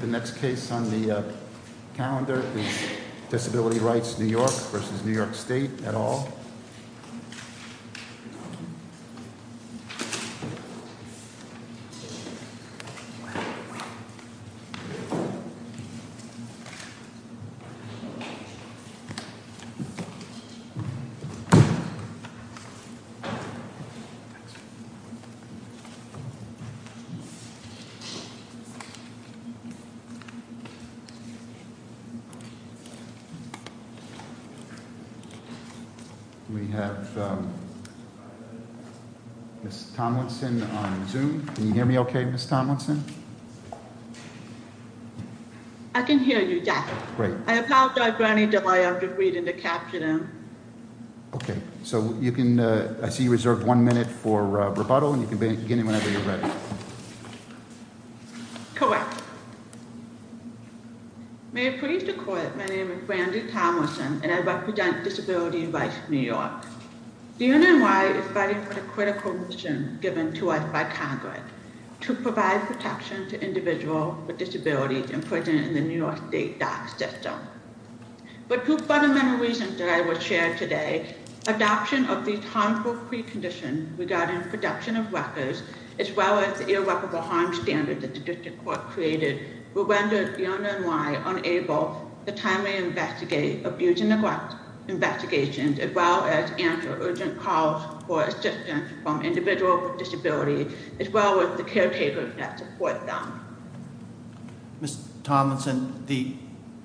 The next case on the calendar is Disability Rights New York v. New York State et al. We have Ms. Tomlinson on Zoom. Can you hear me okay, Ms. Tomlinson? I can hear you, yes. I apologize, Brownie, that I have to read in the captioning. Okay, so I see you reserve one minute for rebuttal, and you can begin whenever you're ready. Correct. May it please the Court, my name is Brandy Tomlinson, and I represent Disability Rights New York. The NNY is fighting for the critical mission given to us by Congress to provide protection to individuals with disabilities in prison in the New York State DOC system. But two fundamental reasons that I will share today, adoption of these harmful preconditions regarding the production of records, as well as the irreparable harm standards that the District Court created, will render the NNY unable to timely investigate abuse and neglect investigations, as well as answer urgent calls for assistance from individuals with disabilities, as well as the caretakers that support them. Ms. Tomlinson, the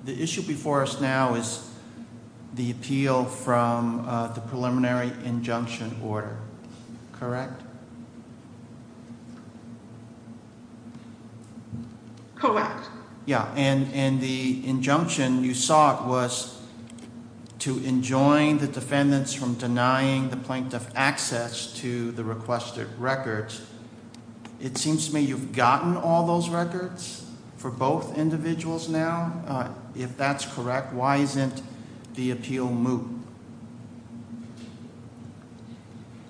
issue before us now is the appeal from the preliminary injunction order, correct? Correct. Yeah, and the injunction you sought was to enjoin the defendants from denying the plaintiff access to the requested records. It seems to me you've gotten all those records for both individuals now. If that's correct, why isn't the appeal moot?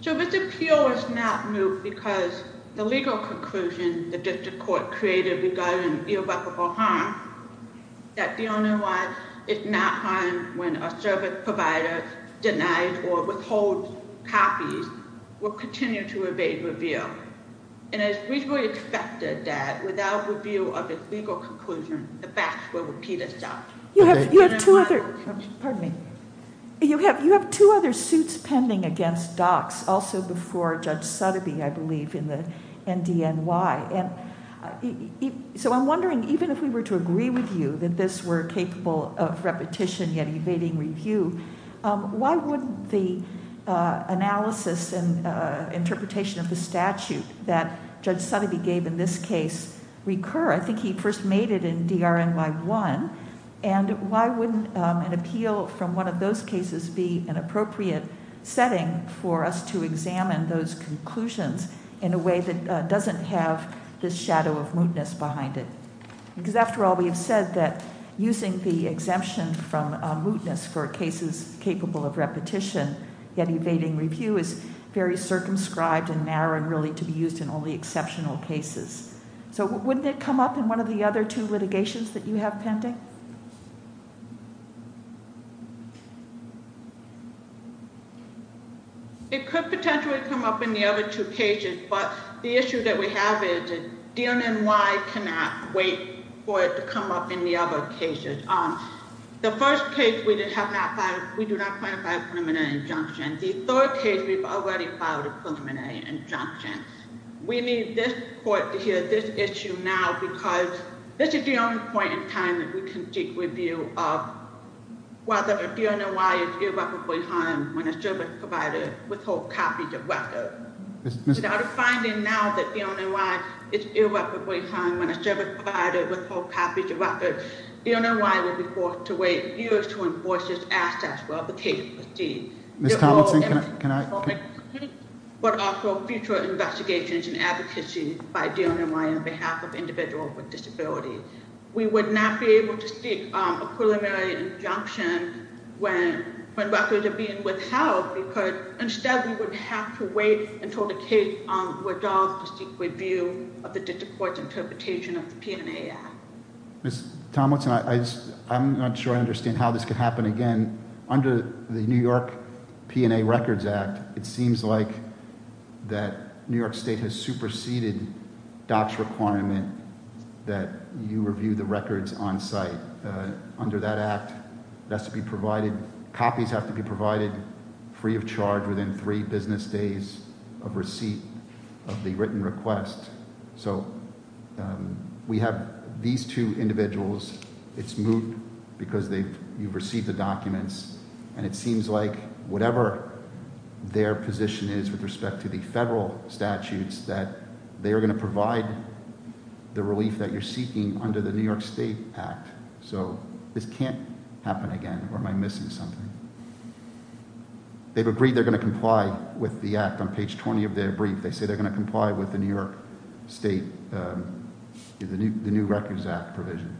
So this appeal is not moot because the legal conclusion the District Court created regarding irreparable harm, that the NNY is not harmed when a service provider denies or withholds copies, will continue to evade review. And it is reasonably expected that without review of its legal conclusion, the facts will repeat itself. You have two other suits pending against DOCs, also before Judge Sutterby, I believe, in the NDNY. So I'm wondering, even if we were to agree with you that this were capable of repetition yet evading review, why would the analysis and interpretation of the statute that Judge Sutterby gave in this case recur? I think he first made it in DRNY1. And why wouldn't an appeal from one of those cases be an appropriate setting for us to examine those conclusions in a way that doesn't have this shadow of mootness behind it? Because after all, we have said that using the exemption from mootness for cases capable of repetition yet evading review is very circumscribed and narrow and really to be used in only exceptional cases. So wouldn't it come up in one of the other two litigations that you have pending? It could potentially come up in the other two cases. But the issue that we have is that DNNY cannot wait for it to come up in the other cases. The first case, we do not plan to file a preliminary injunction. The third case, we've already filed a preliminary injunction. We need this court to hear this issue now because this is the only point in time that we can do that. We can seek review of whether a DNNY is irreparably harmed when a service provider withholds copies of records. Without a finding now that DNNY is irreparably harmed when a service provider withholds copies of records, DNNY will be forced to wait years to enforce its assets while the case proceeds. Ms. Tomlinson, can I? But also future investigations and advocacy by DNNY on behalf of individuals with disabilities. We would not be able to seek a preliminary injunction when records are being withheld because instead we would have to wait until the case withdraws to seek review of the district court's interpretation of the P&A Act. Ms. Tomlinson, I'm not sure I understand how this could happen again. Under the New York P&A Records Act, it seems like that New York State has superseded DOC's requirement that you review the records on site. Under that act, that's to be provided, copies have to be provided free of charge within three business days of receipt of the written request. So we have these two individuals. It's moot because you've received the documents, and it seems like whatever their position is with respect to the federal statutes, that they are going to provide the relief that you're seeking under the New York State Act. So this can't happen again, or am I missing something? They've agreed they're going to comply with the act. On page 20 of their brief, they say they're going to comply with the New York State, the new Records Act provision.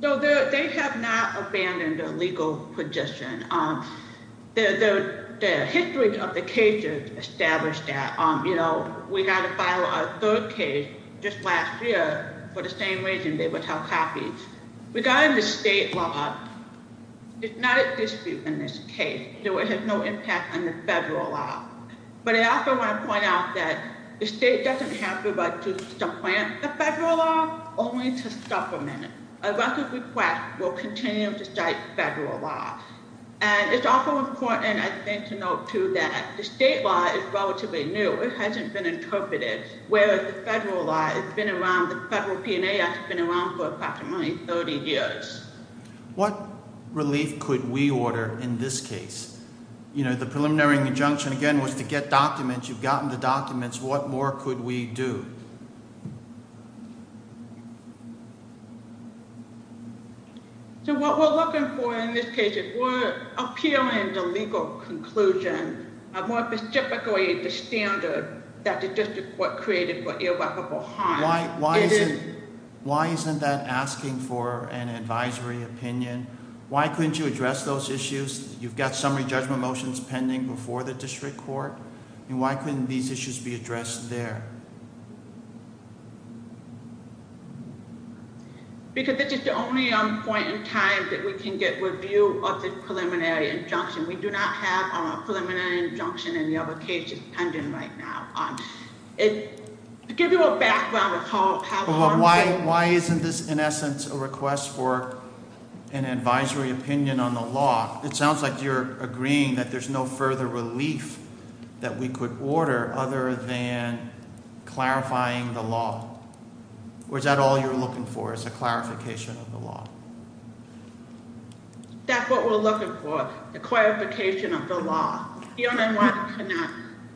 So they have not abandoned their legal position. The history of the cases established that we got to file our third case just last year for the same reason they would have copies. Regarding the state law, it's not at dispute in this case. So it has no impact on the federal law. But I also want to point out that the state doesn't have the right to supplant the federal law, only to supplement it. A records request will continue to cite federal law. And it's also important, I think, to note, too, that the state law is relatively new. It hasn't been interpreted, whereas the federal law has been around, the federal P&AS has been around for approximately 30 years. What relief could we order in this case? You know, the preliminary injunction, again, was to get documents. You've gotten the documents. What more could we do? So what we're looking for in this case is we're appealing the legal conclusion, more specifically the standard that the district court created for irreparable harm. Why isn't that asking for an advisory opinion? Why couldn't you address those issues? You've got summary judgment motions pending before the district court. Why couldn't these issues be addressed there? Because this is the only point in time that we can get review of the preliminary injunction. We do not have a preliminary injunction in the other cases pending right now. To give you a background of how- Why isn't this, in essence, a request for an advisory opinion on the law? It sounds like you're agreeing that there's no further relief that we could order other than clarifying the law. Or is that all you're looking for is a clarification of the law? That's what we're looking for, the clarification of the law. The only one who cannot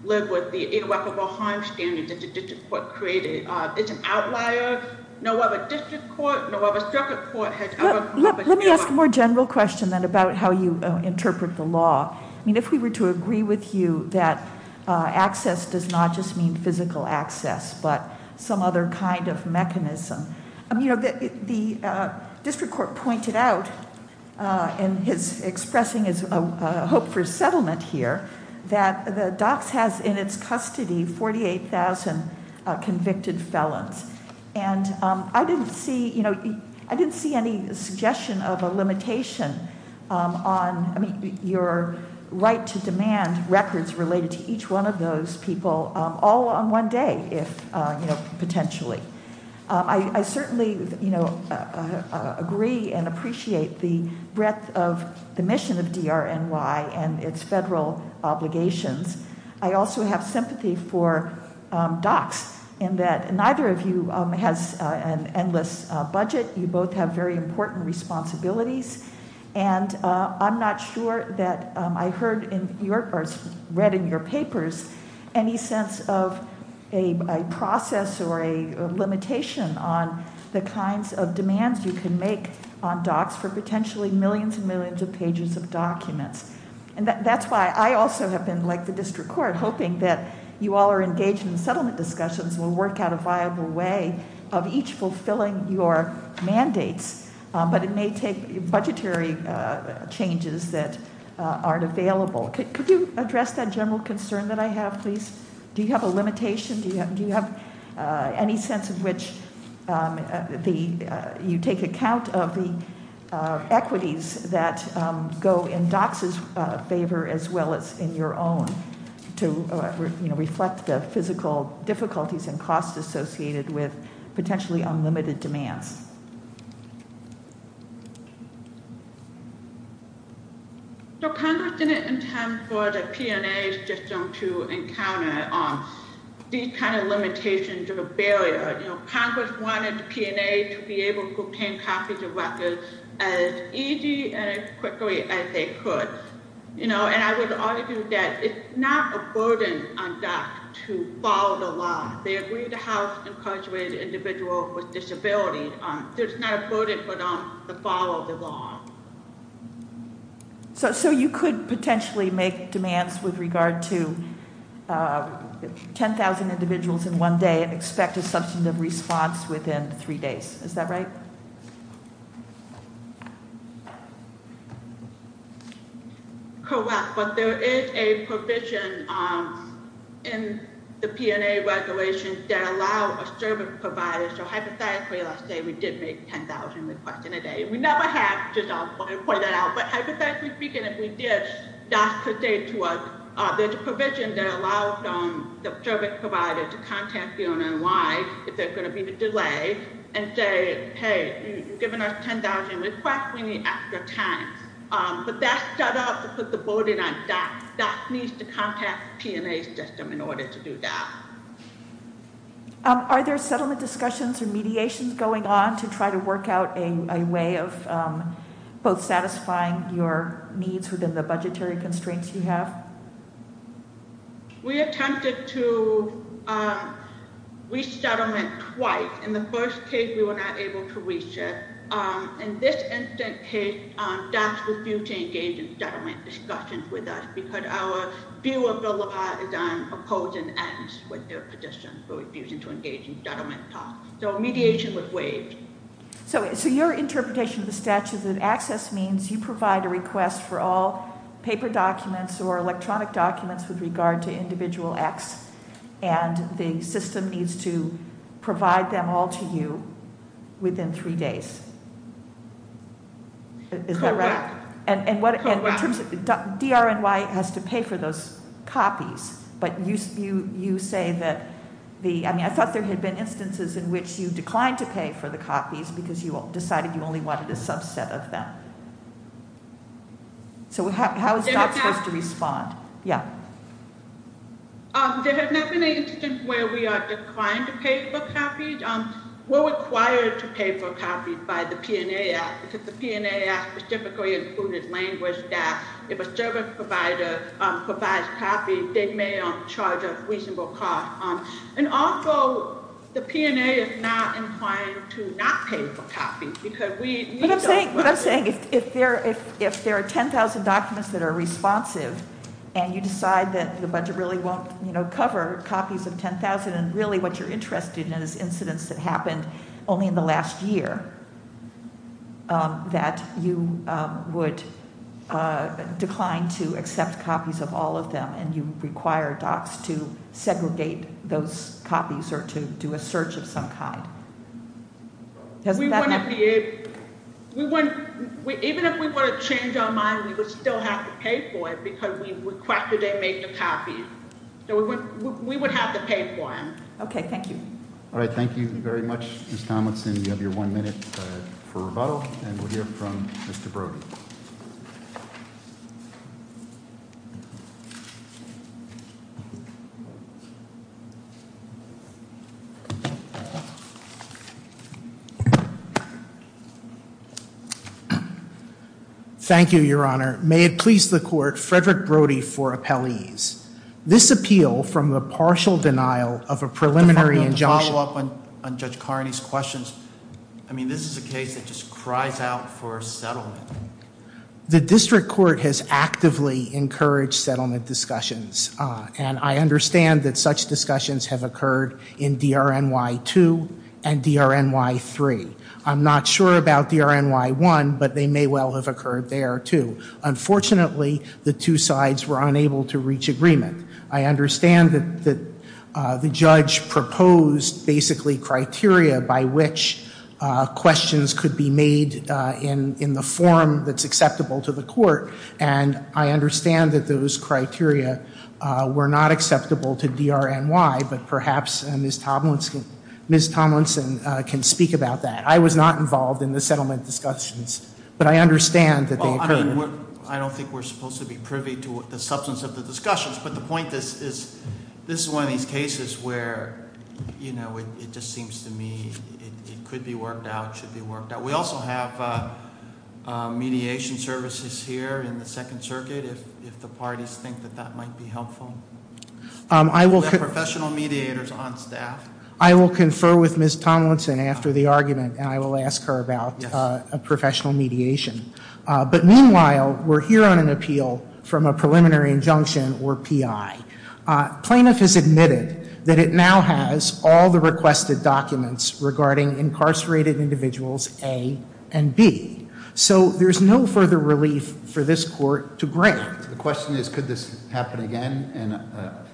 live with the irreparable harm standard that the district court created is an outlier. No other district court, no other circuit court has ever- Let me ask a more general question then about how you interpret the law. If we were to agree with you that access does not just mean physical access, but some other kind of mechanism. The district court pointed out in his expressing his hope for settlement here that the docks has in its custody 48,000 convicted felons. And I didn't see any suggestion of a limitation on, I mean, your right to demand records related to each one of those people, all on one day, potentially. I certainly agree and appreciate the breadth of the mission of DRNY and its federal obligations. I also have sympathy for docks in that neither of you has an endless budget. You both have very important responsibilities. And I'm not sure that I heard in your, or read in your papers, any sense of a process or a limitation on the kinds of demands you can make on docks for potentially millions and millions of pages of documents. And that's why I also have been, like the district court, hoping that you all are engaged in the settlement discussions. We'll work out a viable way of each fulfilling your mandates. But it may take budgetary changes that aren't available. Could you address that general concern that I have, please? Do you have a limitation? Do you have any sense of which you take account of the equities that go in docks' favor as well as in your own to reflect the physical difficulties and costs associated with potentially unlimited demands? So Congress didn't intend for the P&A system to encounter these kind of limitations or barriers. Congress wanted P&A to be able to obtain copies of records as easy and as quickly as they could. And I would argue that it's not a burden on docks to follow the law. They agree to house incarcerated individuals with disabilities. It's not a burden, but to follow the law. So you could potentially make demands with regard to 10,000 individuals in one day and expect a substantive response within three days, is that right? Correct, but there is a provision in the P&A regulations that allow a service provider, so hypothetically, let's say we did make 10,000 requests in a day. We never have, just to point that out, but hypothetically speaking, if we did, docks could say to us, there's a provision that allows the service provider to contact the owner in line if there's going to be a delay and say, hey, you've given us 10,000 requests, we need extra time. But that's set up to put the burden on docks. Docks needs to contact the P&A system in order to do that. Are there settlement discussions or mediations going on to try to work out a way of both satisfying your needs within the budgetary constraints you have? We attempted to reach settlement twice. In the first case, we were not able to reach it. In this instant case, docks refused to engage in settlement discussions with us because our view of the law is on opposing ends with their position for refusing to engage in settlement talks. So mediation was waived. So your interpretation of the statute of access means you provide a request for all paper documents or electronic documents with regard to individual acts, and the system needs to provide them all to you within three days. Correct. DRNY has to pay for those copies, but you say that... I mean, I thought there had been instances in which you declined to pay for the copies because you decided you only wanted a subset of them. So how is docks supposed to respond? There has not been an instance where we are declined to pay for copies. We're required to pay for copies by the P&A Act because the P&A Act specifically included language that if a service provider provides copies, they may charge a reasonable cost. And also, the P&A is not inclined to not pay for copies because we... What I'm saying is if there are 10,000 documents that are responsive and you decide that the budget really won't cover copies of 10,000 and really what you're interested in is incidents that happened only in the last year, that you would decline to accept copies of all of them and you require docks to segregate those copies or to do a search of some kind. Even if we want to change our mind, we would still have to pay for it because we requested they make the copies. So we would have to pay for them. Okay, thank you. All right, thank you very much, Ms. Tomlinson. You have your one minute for rebuttal and we'll hear from Mr. Brody. Thank you, Your Honor. May it please the Court, Frederick Brody for appellees. This appeal from the partial denial of a preliminary injunction... I mean, this is a case that just cries out for a settlement. The district court has actively encouraged settlement discussions and I understand that such discussions have occurred in DRNY 2 and DRNY 3. I'm not sure about DRNY 1, but they may well have occurred there too. Unfortunately, the two sides were unable to reach agreement. I understand that the judge proposed basically criteria by which questions could be made in the form that's acceptable to the court and I understand that those criteria were not acceptable to DRNY, but perhaps Ms. Tomlinson can speak about that. I was not involved in the settlement discussions, but I understand that they occurred. I don't think we're supposed to be privy to the substance of the discussions, but the point is this is one of these cases where, you know, it just seems to me it could be worked out, should be worked out. We also have mediation services here in the Second Circuit if the parties think that that might be helpful. We have professional mediators on staff. I will confer with Ms. Tomlinson after the argument and I will ask her about professional mediation. But meanwhile, we're here on an appeal from a preliminary injunction or PI. Plaintiff has admitted that it now has all the requested documents regarding incarcerated individuals A and B. So there's no further relief for this court to grant. The question is could this happen again? And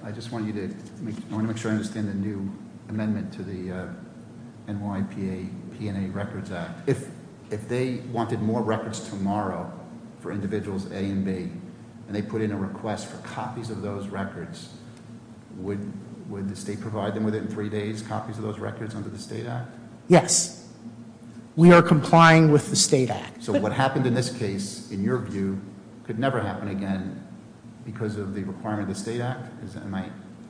I just want to make sure I understand the new amendment to the NYPA P&A Records Act. If they wanted more records tomorrow for individuals A and B and they put in a request for copies of those records, would the state provide them with it in three days, copies of those records under the State Act? Yes. We are complying with the State Act. So what happened in this case, in your view, could never happen again because of the requirement of the State Act? Am I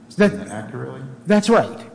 stating that accurately? That's right.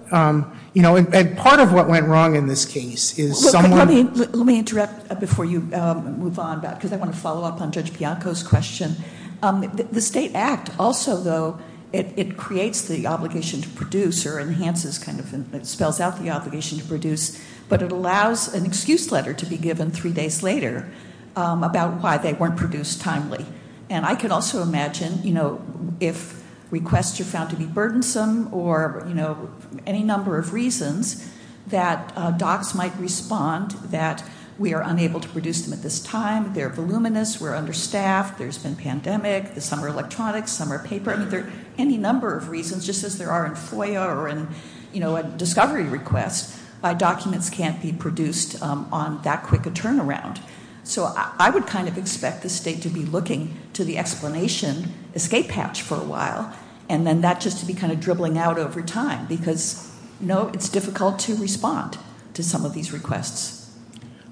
You know, and part of what went wrong in this case is someone- Let me interrupt before you move on, because I want to follow up on Judge Bianco's question. The State Act also, though, it creates the obligation to produce or enhances kind of-it spells out the obligation to produce, but it allows an excuse letter to be given three days later about why they weren't produced timely. And I can also imagine, you know, if requests are found to be burdensome or, you know, any number of reasons that docs might respond that we are unable to produce them at this time, they're voluminous, we're understaffed, there's been pandemic, some are electronics, some are paper. I mean, any number of reasons, just as there are in FOIA or in, you know, a discovery request, documents can't be produced on that quick a turnaround. So I would kind of expect the state to be looking to the explanation escape hatch for a while and then that just to be kind of dribbling out over time because, you know, it's difficult to respond to some of these requests.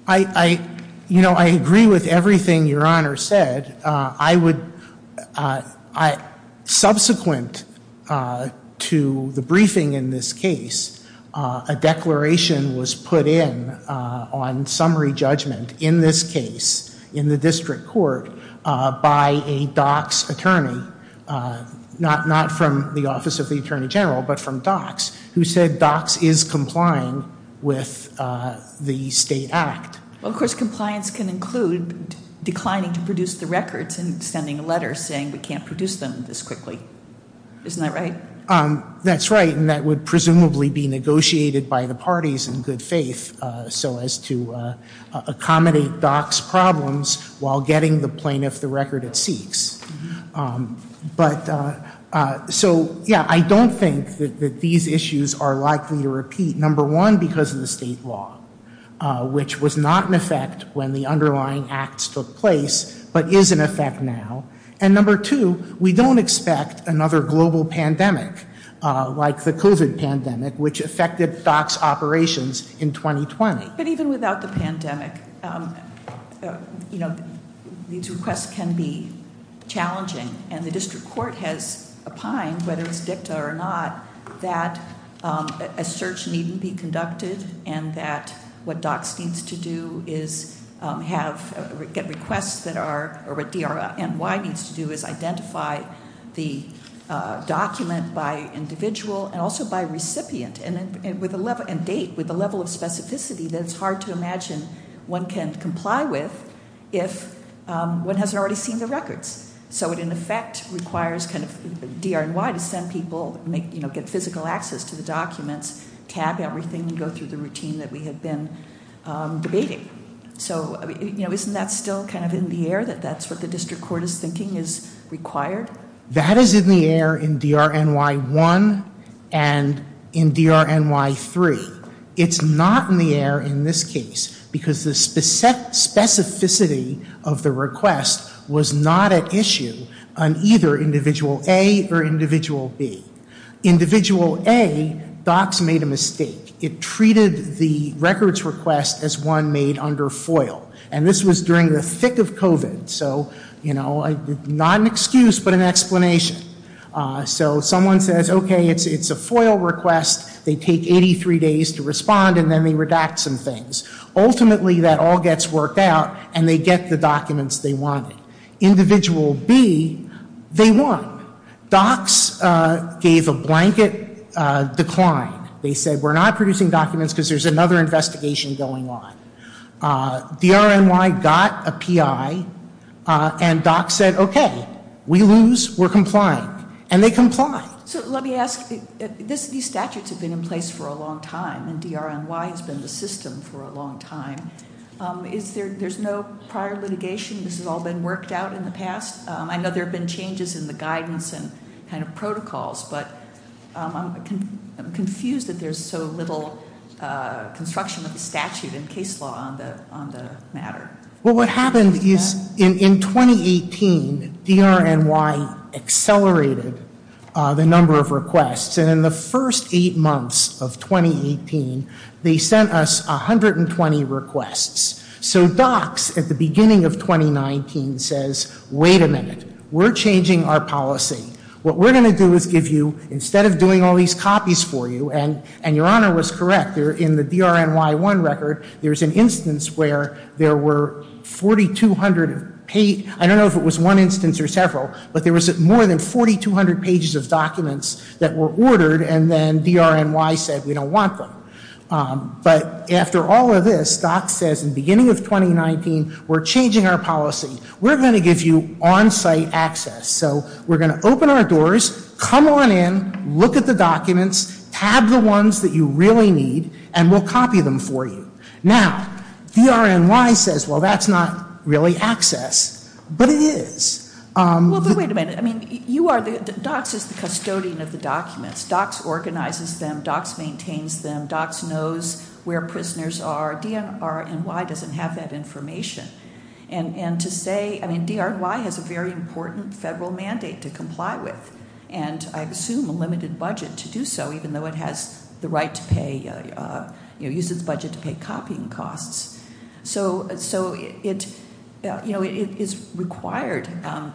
I, you know, I agree with everything Your Honor said. I would-subsequent to the briefing in this case, a declaration was put in on summary judgment in this case in the district court by a docs attorney, not from the Office of the Attorney General, but from docs who said docs is complying with the state act. Of course, compliance can include declining to produce the records and sending a letter saying we can't produce them this quickly. Isn't that right? That's right and that would presumably be negotiated by the parties in good faith so as to accommodate docs problems while getting the plaintiff the record it seeks. But so, yeah, I don't think that these issues are likely to repeat. Number one, because of the state law, which was not in effect when the underlying acts took place, but is in effect now. And number two, we don't expect another global pandemic like the COVID pandemic, which affected docs operations in 2020. But even without the pandemic, these requests can be challenging, and the district court has opined, whether it's dicta or not, that a search needn't be conducted and that what docs needs to do is get requests that are- or what DRNY needs to do is identify the document by individual and also by recipient and date with a level of specificity that it's hard to imagine one can comply with if one hasn't already seen the records. So it in effect requires DRNY to send people, get physical access to the documents, tab everything and go through the routine that we have been debating. So isn't that still kind of in the air, that that's what the district court is thinking is required? That is in the air in DRNY 1 and in DRNY 3. It's not in the air in this case because the specificity of the request was not at issue on either Individual A or Individual B. Individual A, docs made a mistake. It treated the records request as one made under FOIL, and this was during the thick of COVID. So, you know, not an excuse but an explanation. So someone says, okay, it's a FOIL request, they take 83 days to respond and then they redact some things. Ultimately that all gets worked out and they get the documents they wanted. Individual B, they won. Docs gave a blanket decline. They said, we're not producing documents because there's another investigation going on. DRNY got a PI and docs said, okay, we lose, we're complying. And they complied. So let me ask, these statutes have been in place for a long time and DRNY has been the system for a long time. There's no prior litigation? This has all been worked out in the past? But I'm confused that there's so little construction of the statute and case law on the matter. Well, what happened is in 2018, DRNY accelerated the number of requests. And in the first eight months of 2018, they sent us 120 requests. So docs at the beginning of 2019 says, wait a minute. We're changing our policy. What we're going to do is give you, instead of doing all these copies for you, and your Honor was correct in the DRNY one record, there's an instance where there were 4,200, I don't know if it was one instance or several, but there was more than 4,200 pages of documents that were ordered and then DRNY said we don't want them. But after all of this, docs says in the beginning of 2019, we're changing our policy. We're going to give you on-site access. So we're going to open our doors, come on in, look at the documents, have the ones that you really need, and we'll copy them for you. Now, DRNY says, well, that's not really access. But it is. Well, but wait a minute. I mean, docs is the custodian of the documents. Docs organizes them. Docs maintains them. Docs knows where prisoners are. DRNY doesn't have that information. And to say, I mean, DRNY has a very important federal mandate to comply with. And I assume a limited budget to do so, even though it has the right to pay, uses budget to pay copying costs. So it is required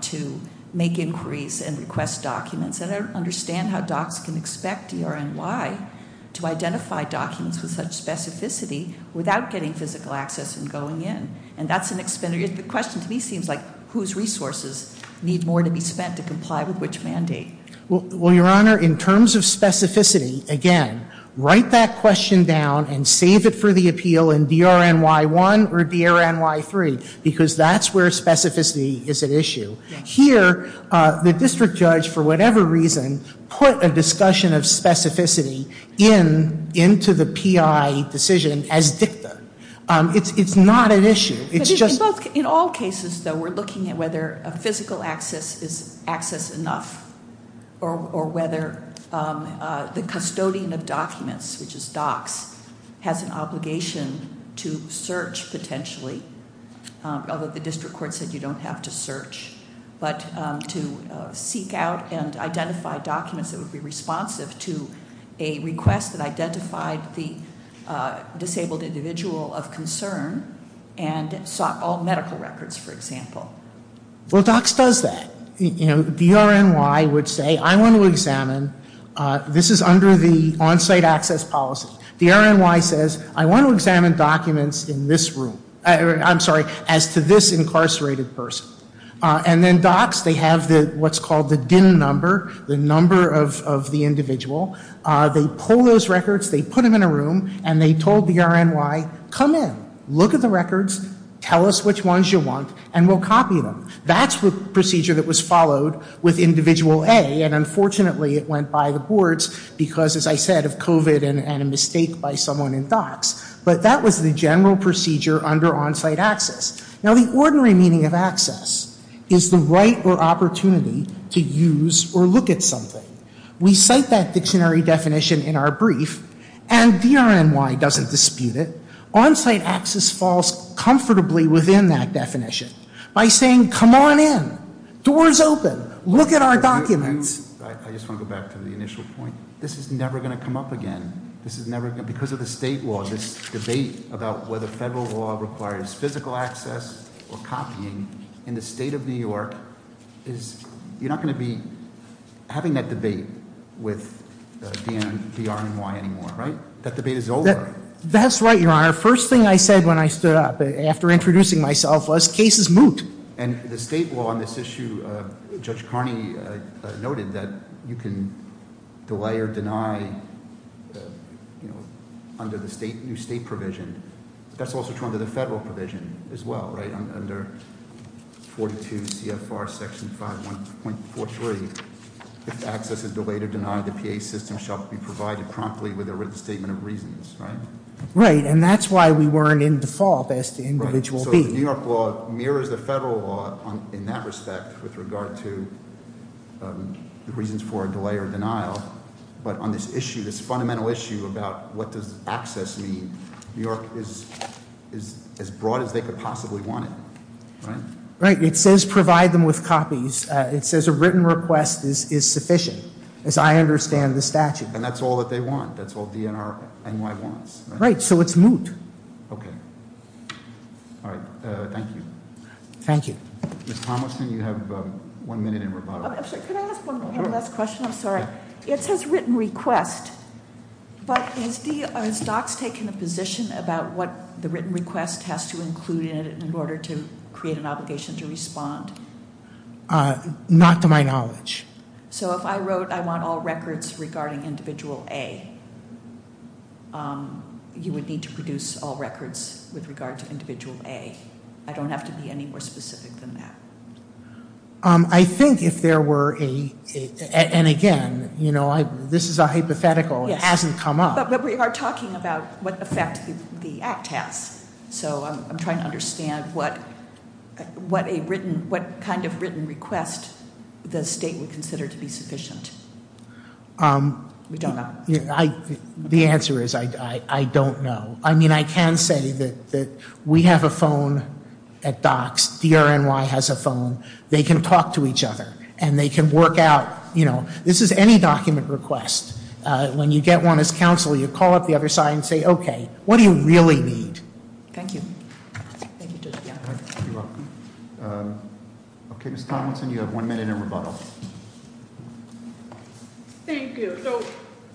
to make inquiries and request documents. And I don't understand how docs can expect DRNY to identify documents with such specificity without getting physical access and going in. And that's an expenditure. The question to me seems like whose resources need more to be spent to comply with which mandate. Well, Your Honor, in terms of specificity, again, write that question down and save it for the appeal in DRNY1 or DRNY3, because that's where specificity is at issue. Here, the district judge, for whatever reason, put a discussion of specificity into the PI decision as dicta. It's not an issue. It's just- In all cases, though, we're looking at whether a physical access is access enough or whether the custodian of documents, which is docs, has an obligation to search potentially. Although the district court said you don't have to search. But to seek out and identify documents that would be responsive to a request that identified the disabled individual of concern and sought all medical records, for example. Well, docs does that. DRNY would say, I want to examine. This is under the on-site access policy. DRNY says, I want to examine documents in this room. I'm sorry, as to this incarcerated person. And then docs, they have what's called the DIN number, the number of the individual. They pull those records. They put them in a room. And they told DRNY, come in. Look at the records. Tell us which ones you want. And we'll copy them. That's the procedure that was followed with individual A. And unfortunately, it went by the boards because, as I said, of COVID and a mistake by someone in docs. But that was the general procedure under on-site access. Now, the ordinary meaning of access is the right or opportunity to use or look at something. We cite that dictionary definition in our brief. And DRNY doesn't dispute it. On-site access falls comfortably within that definition by saying, come on in. Doors open. Look at our documents. I just want to go back to the initial point. This is never going to come up again. This is never going to, because of the state law, this debate about whether federal law requires physical access or copying. In the state of New York, you're not going to be having that debate with DRNY anymore, right? That debate is over. That's right, Your Honor. First thing I said when I stood up after introducing myself was, case is moot. And the state law on this issue, Judge Carney noted that you can delay or deny under the new state provision. That's also true under the federal provision as well, right? Under 42 CFR section 5.43. If access is delayed or denied, the PA system shall be provided promptly with a written statement of reasons, right? Right, and that's why we weren't in default as to individual B. Right, so the New York law mirrors the federal law in that respect with regard to the reasons for delay or denial. But on this issue, this fundamental issue about what does access mean, New York is as broad as they could possibly want it, right? Right, it says provide them with copies. It says a written request is sufficient, as I understand the statute. And that's all that they want. That's all DNR NY wants, right? Right, so it's moot. Okay, all right, thank you. Thank you. Ms. Tomlinson, you have one minute in rebuttal. I'm sorry, can I ask one last question? I'm sorry. It says written request, but has DOCS taken a position about what the written request has to include in it in order to create an obligation to respond? Not to my knowledge. So if I wrote I want all records regarding individual A, you would need to produce all records with regard to individual A. I don't have to be any more specific than that. I think if there were a, and again, this is a hypothetical, it hasn't come up. But we are talking about what effect the act has. So I'm trying to understand what kind of written request the state would consider to be sufficient. We don't know. The answer is I don't know. I mean, I can say that we have a phone at DOCS. DRNY has a phone. They can talk to each other. And they can work out, you know, this is any document request. When you get one as counsel, you call up the other side and say, okay, what do you really need? Thank you. Thank you. You're welcome. Okay, Ms. Tomlinson, you have one minute in rebuttal. Thank you. So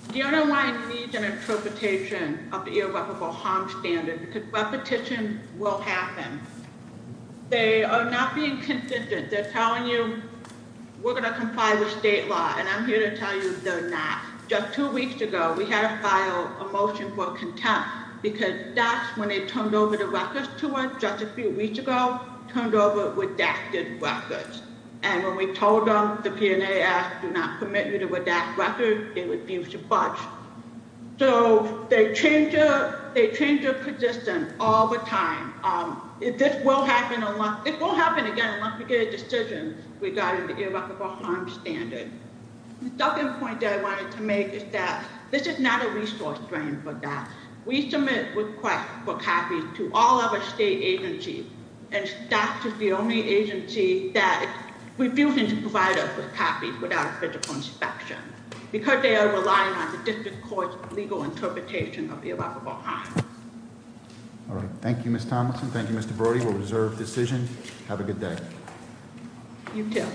DRNY needs an interpretation of the irreparable harm standard because repetition will happen. They are not being consistent. They're telling you we're going to comply with state law. And I'm here to tell you they're not. Just two weeks ago, we had to file a motion for contempt because DOCS, when they turned over the records to us just a few weeks ago, turned over redacted records. And when we told them the PNAS do not permit you to redact records, they refused to budge. So they change their persistence all the time. This will happen again unless we get a decision regarding the irreparable harm standard. The second point that I wanted to make is that this is not a resource drain for DOCS. We submit requests for copies to all other state agencies. And DOCS is the only agency that refuses to provide us with copies without a physical inspection. Because they are relying on the district court's legal interpretation of the irreparable harm. All right. Thank you, Ms. Tomlinson. Thank you, Mr. Brody. We'll reserve decision. Have a good day. You too.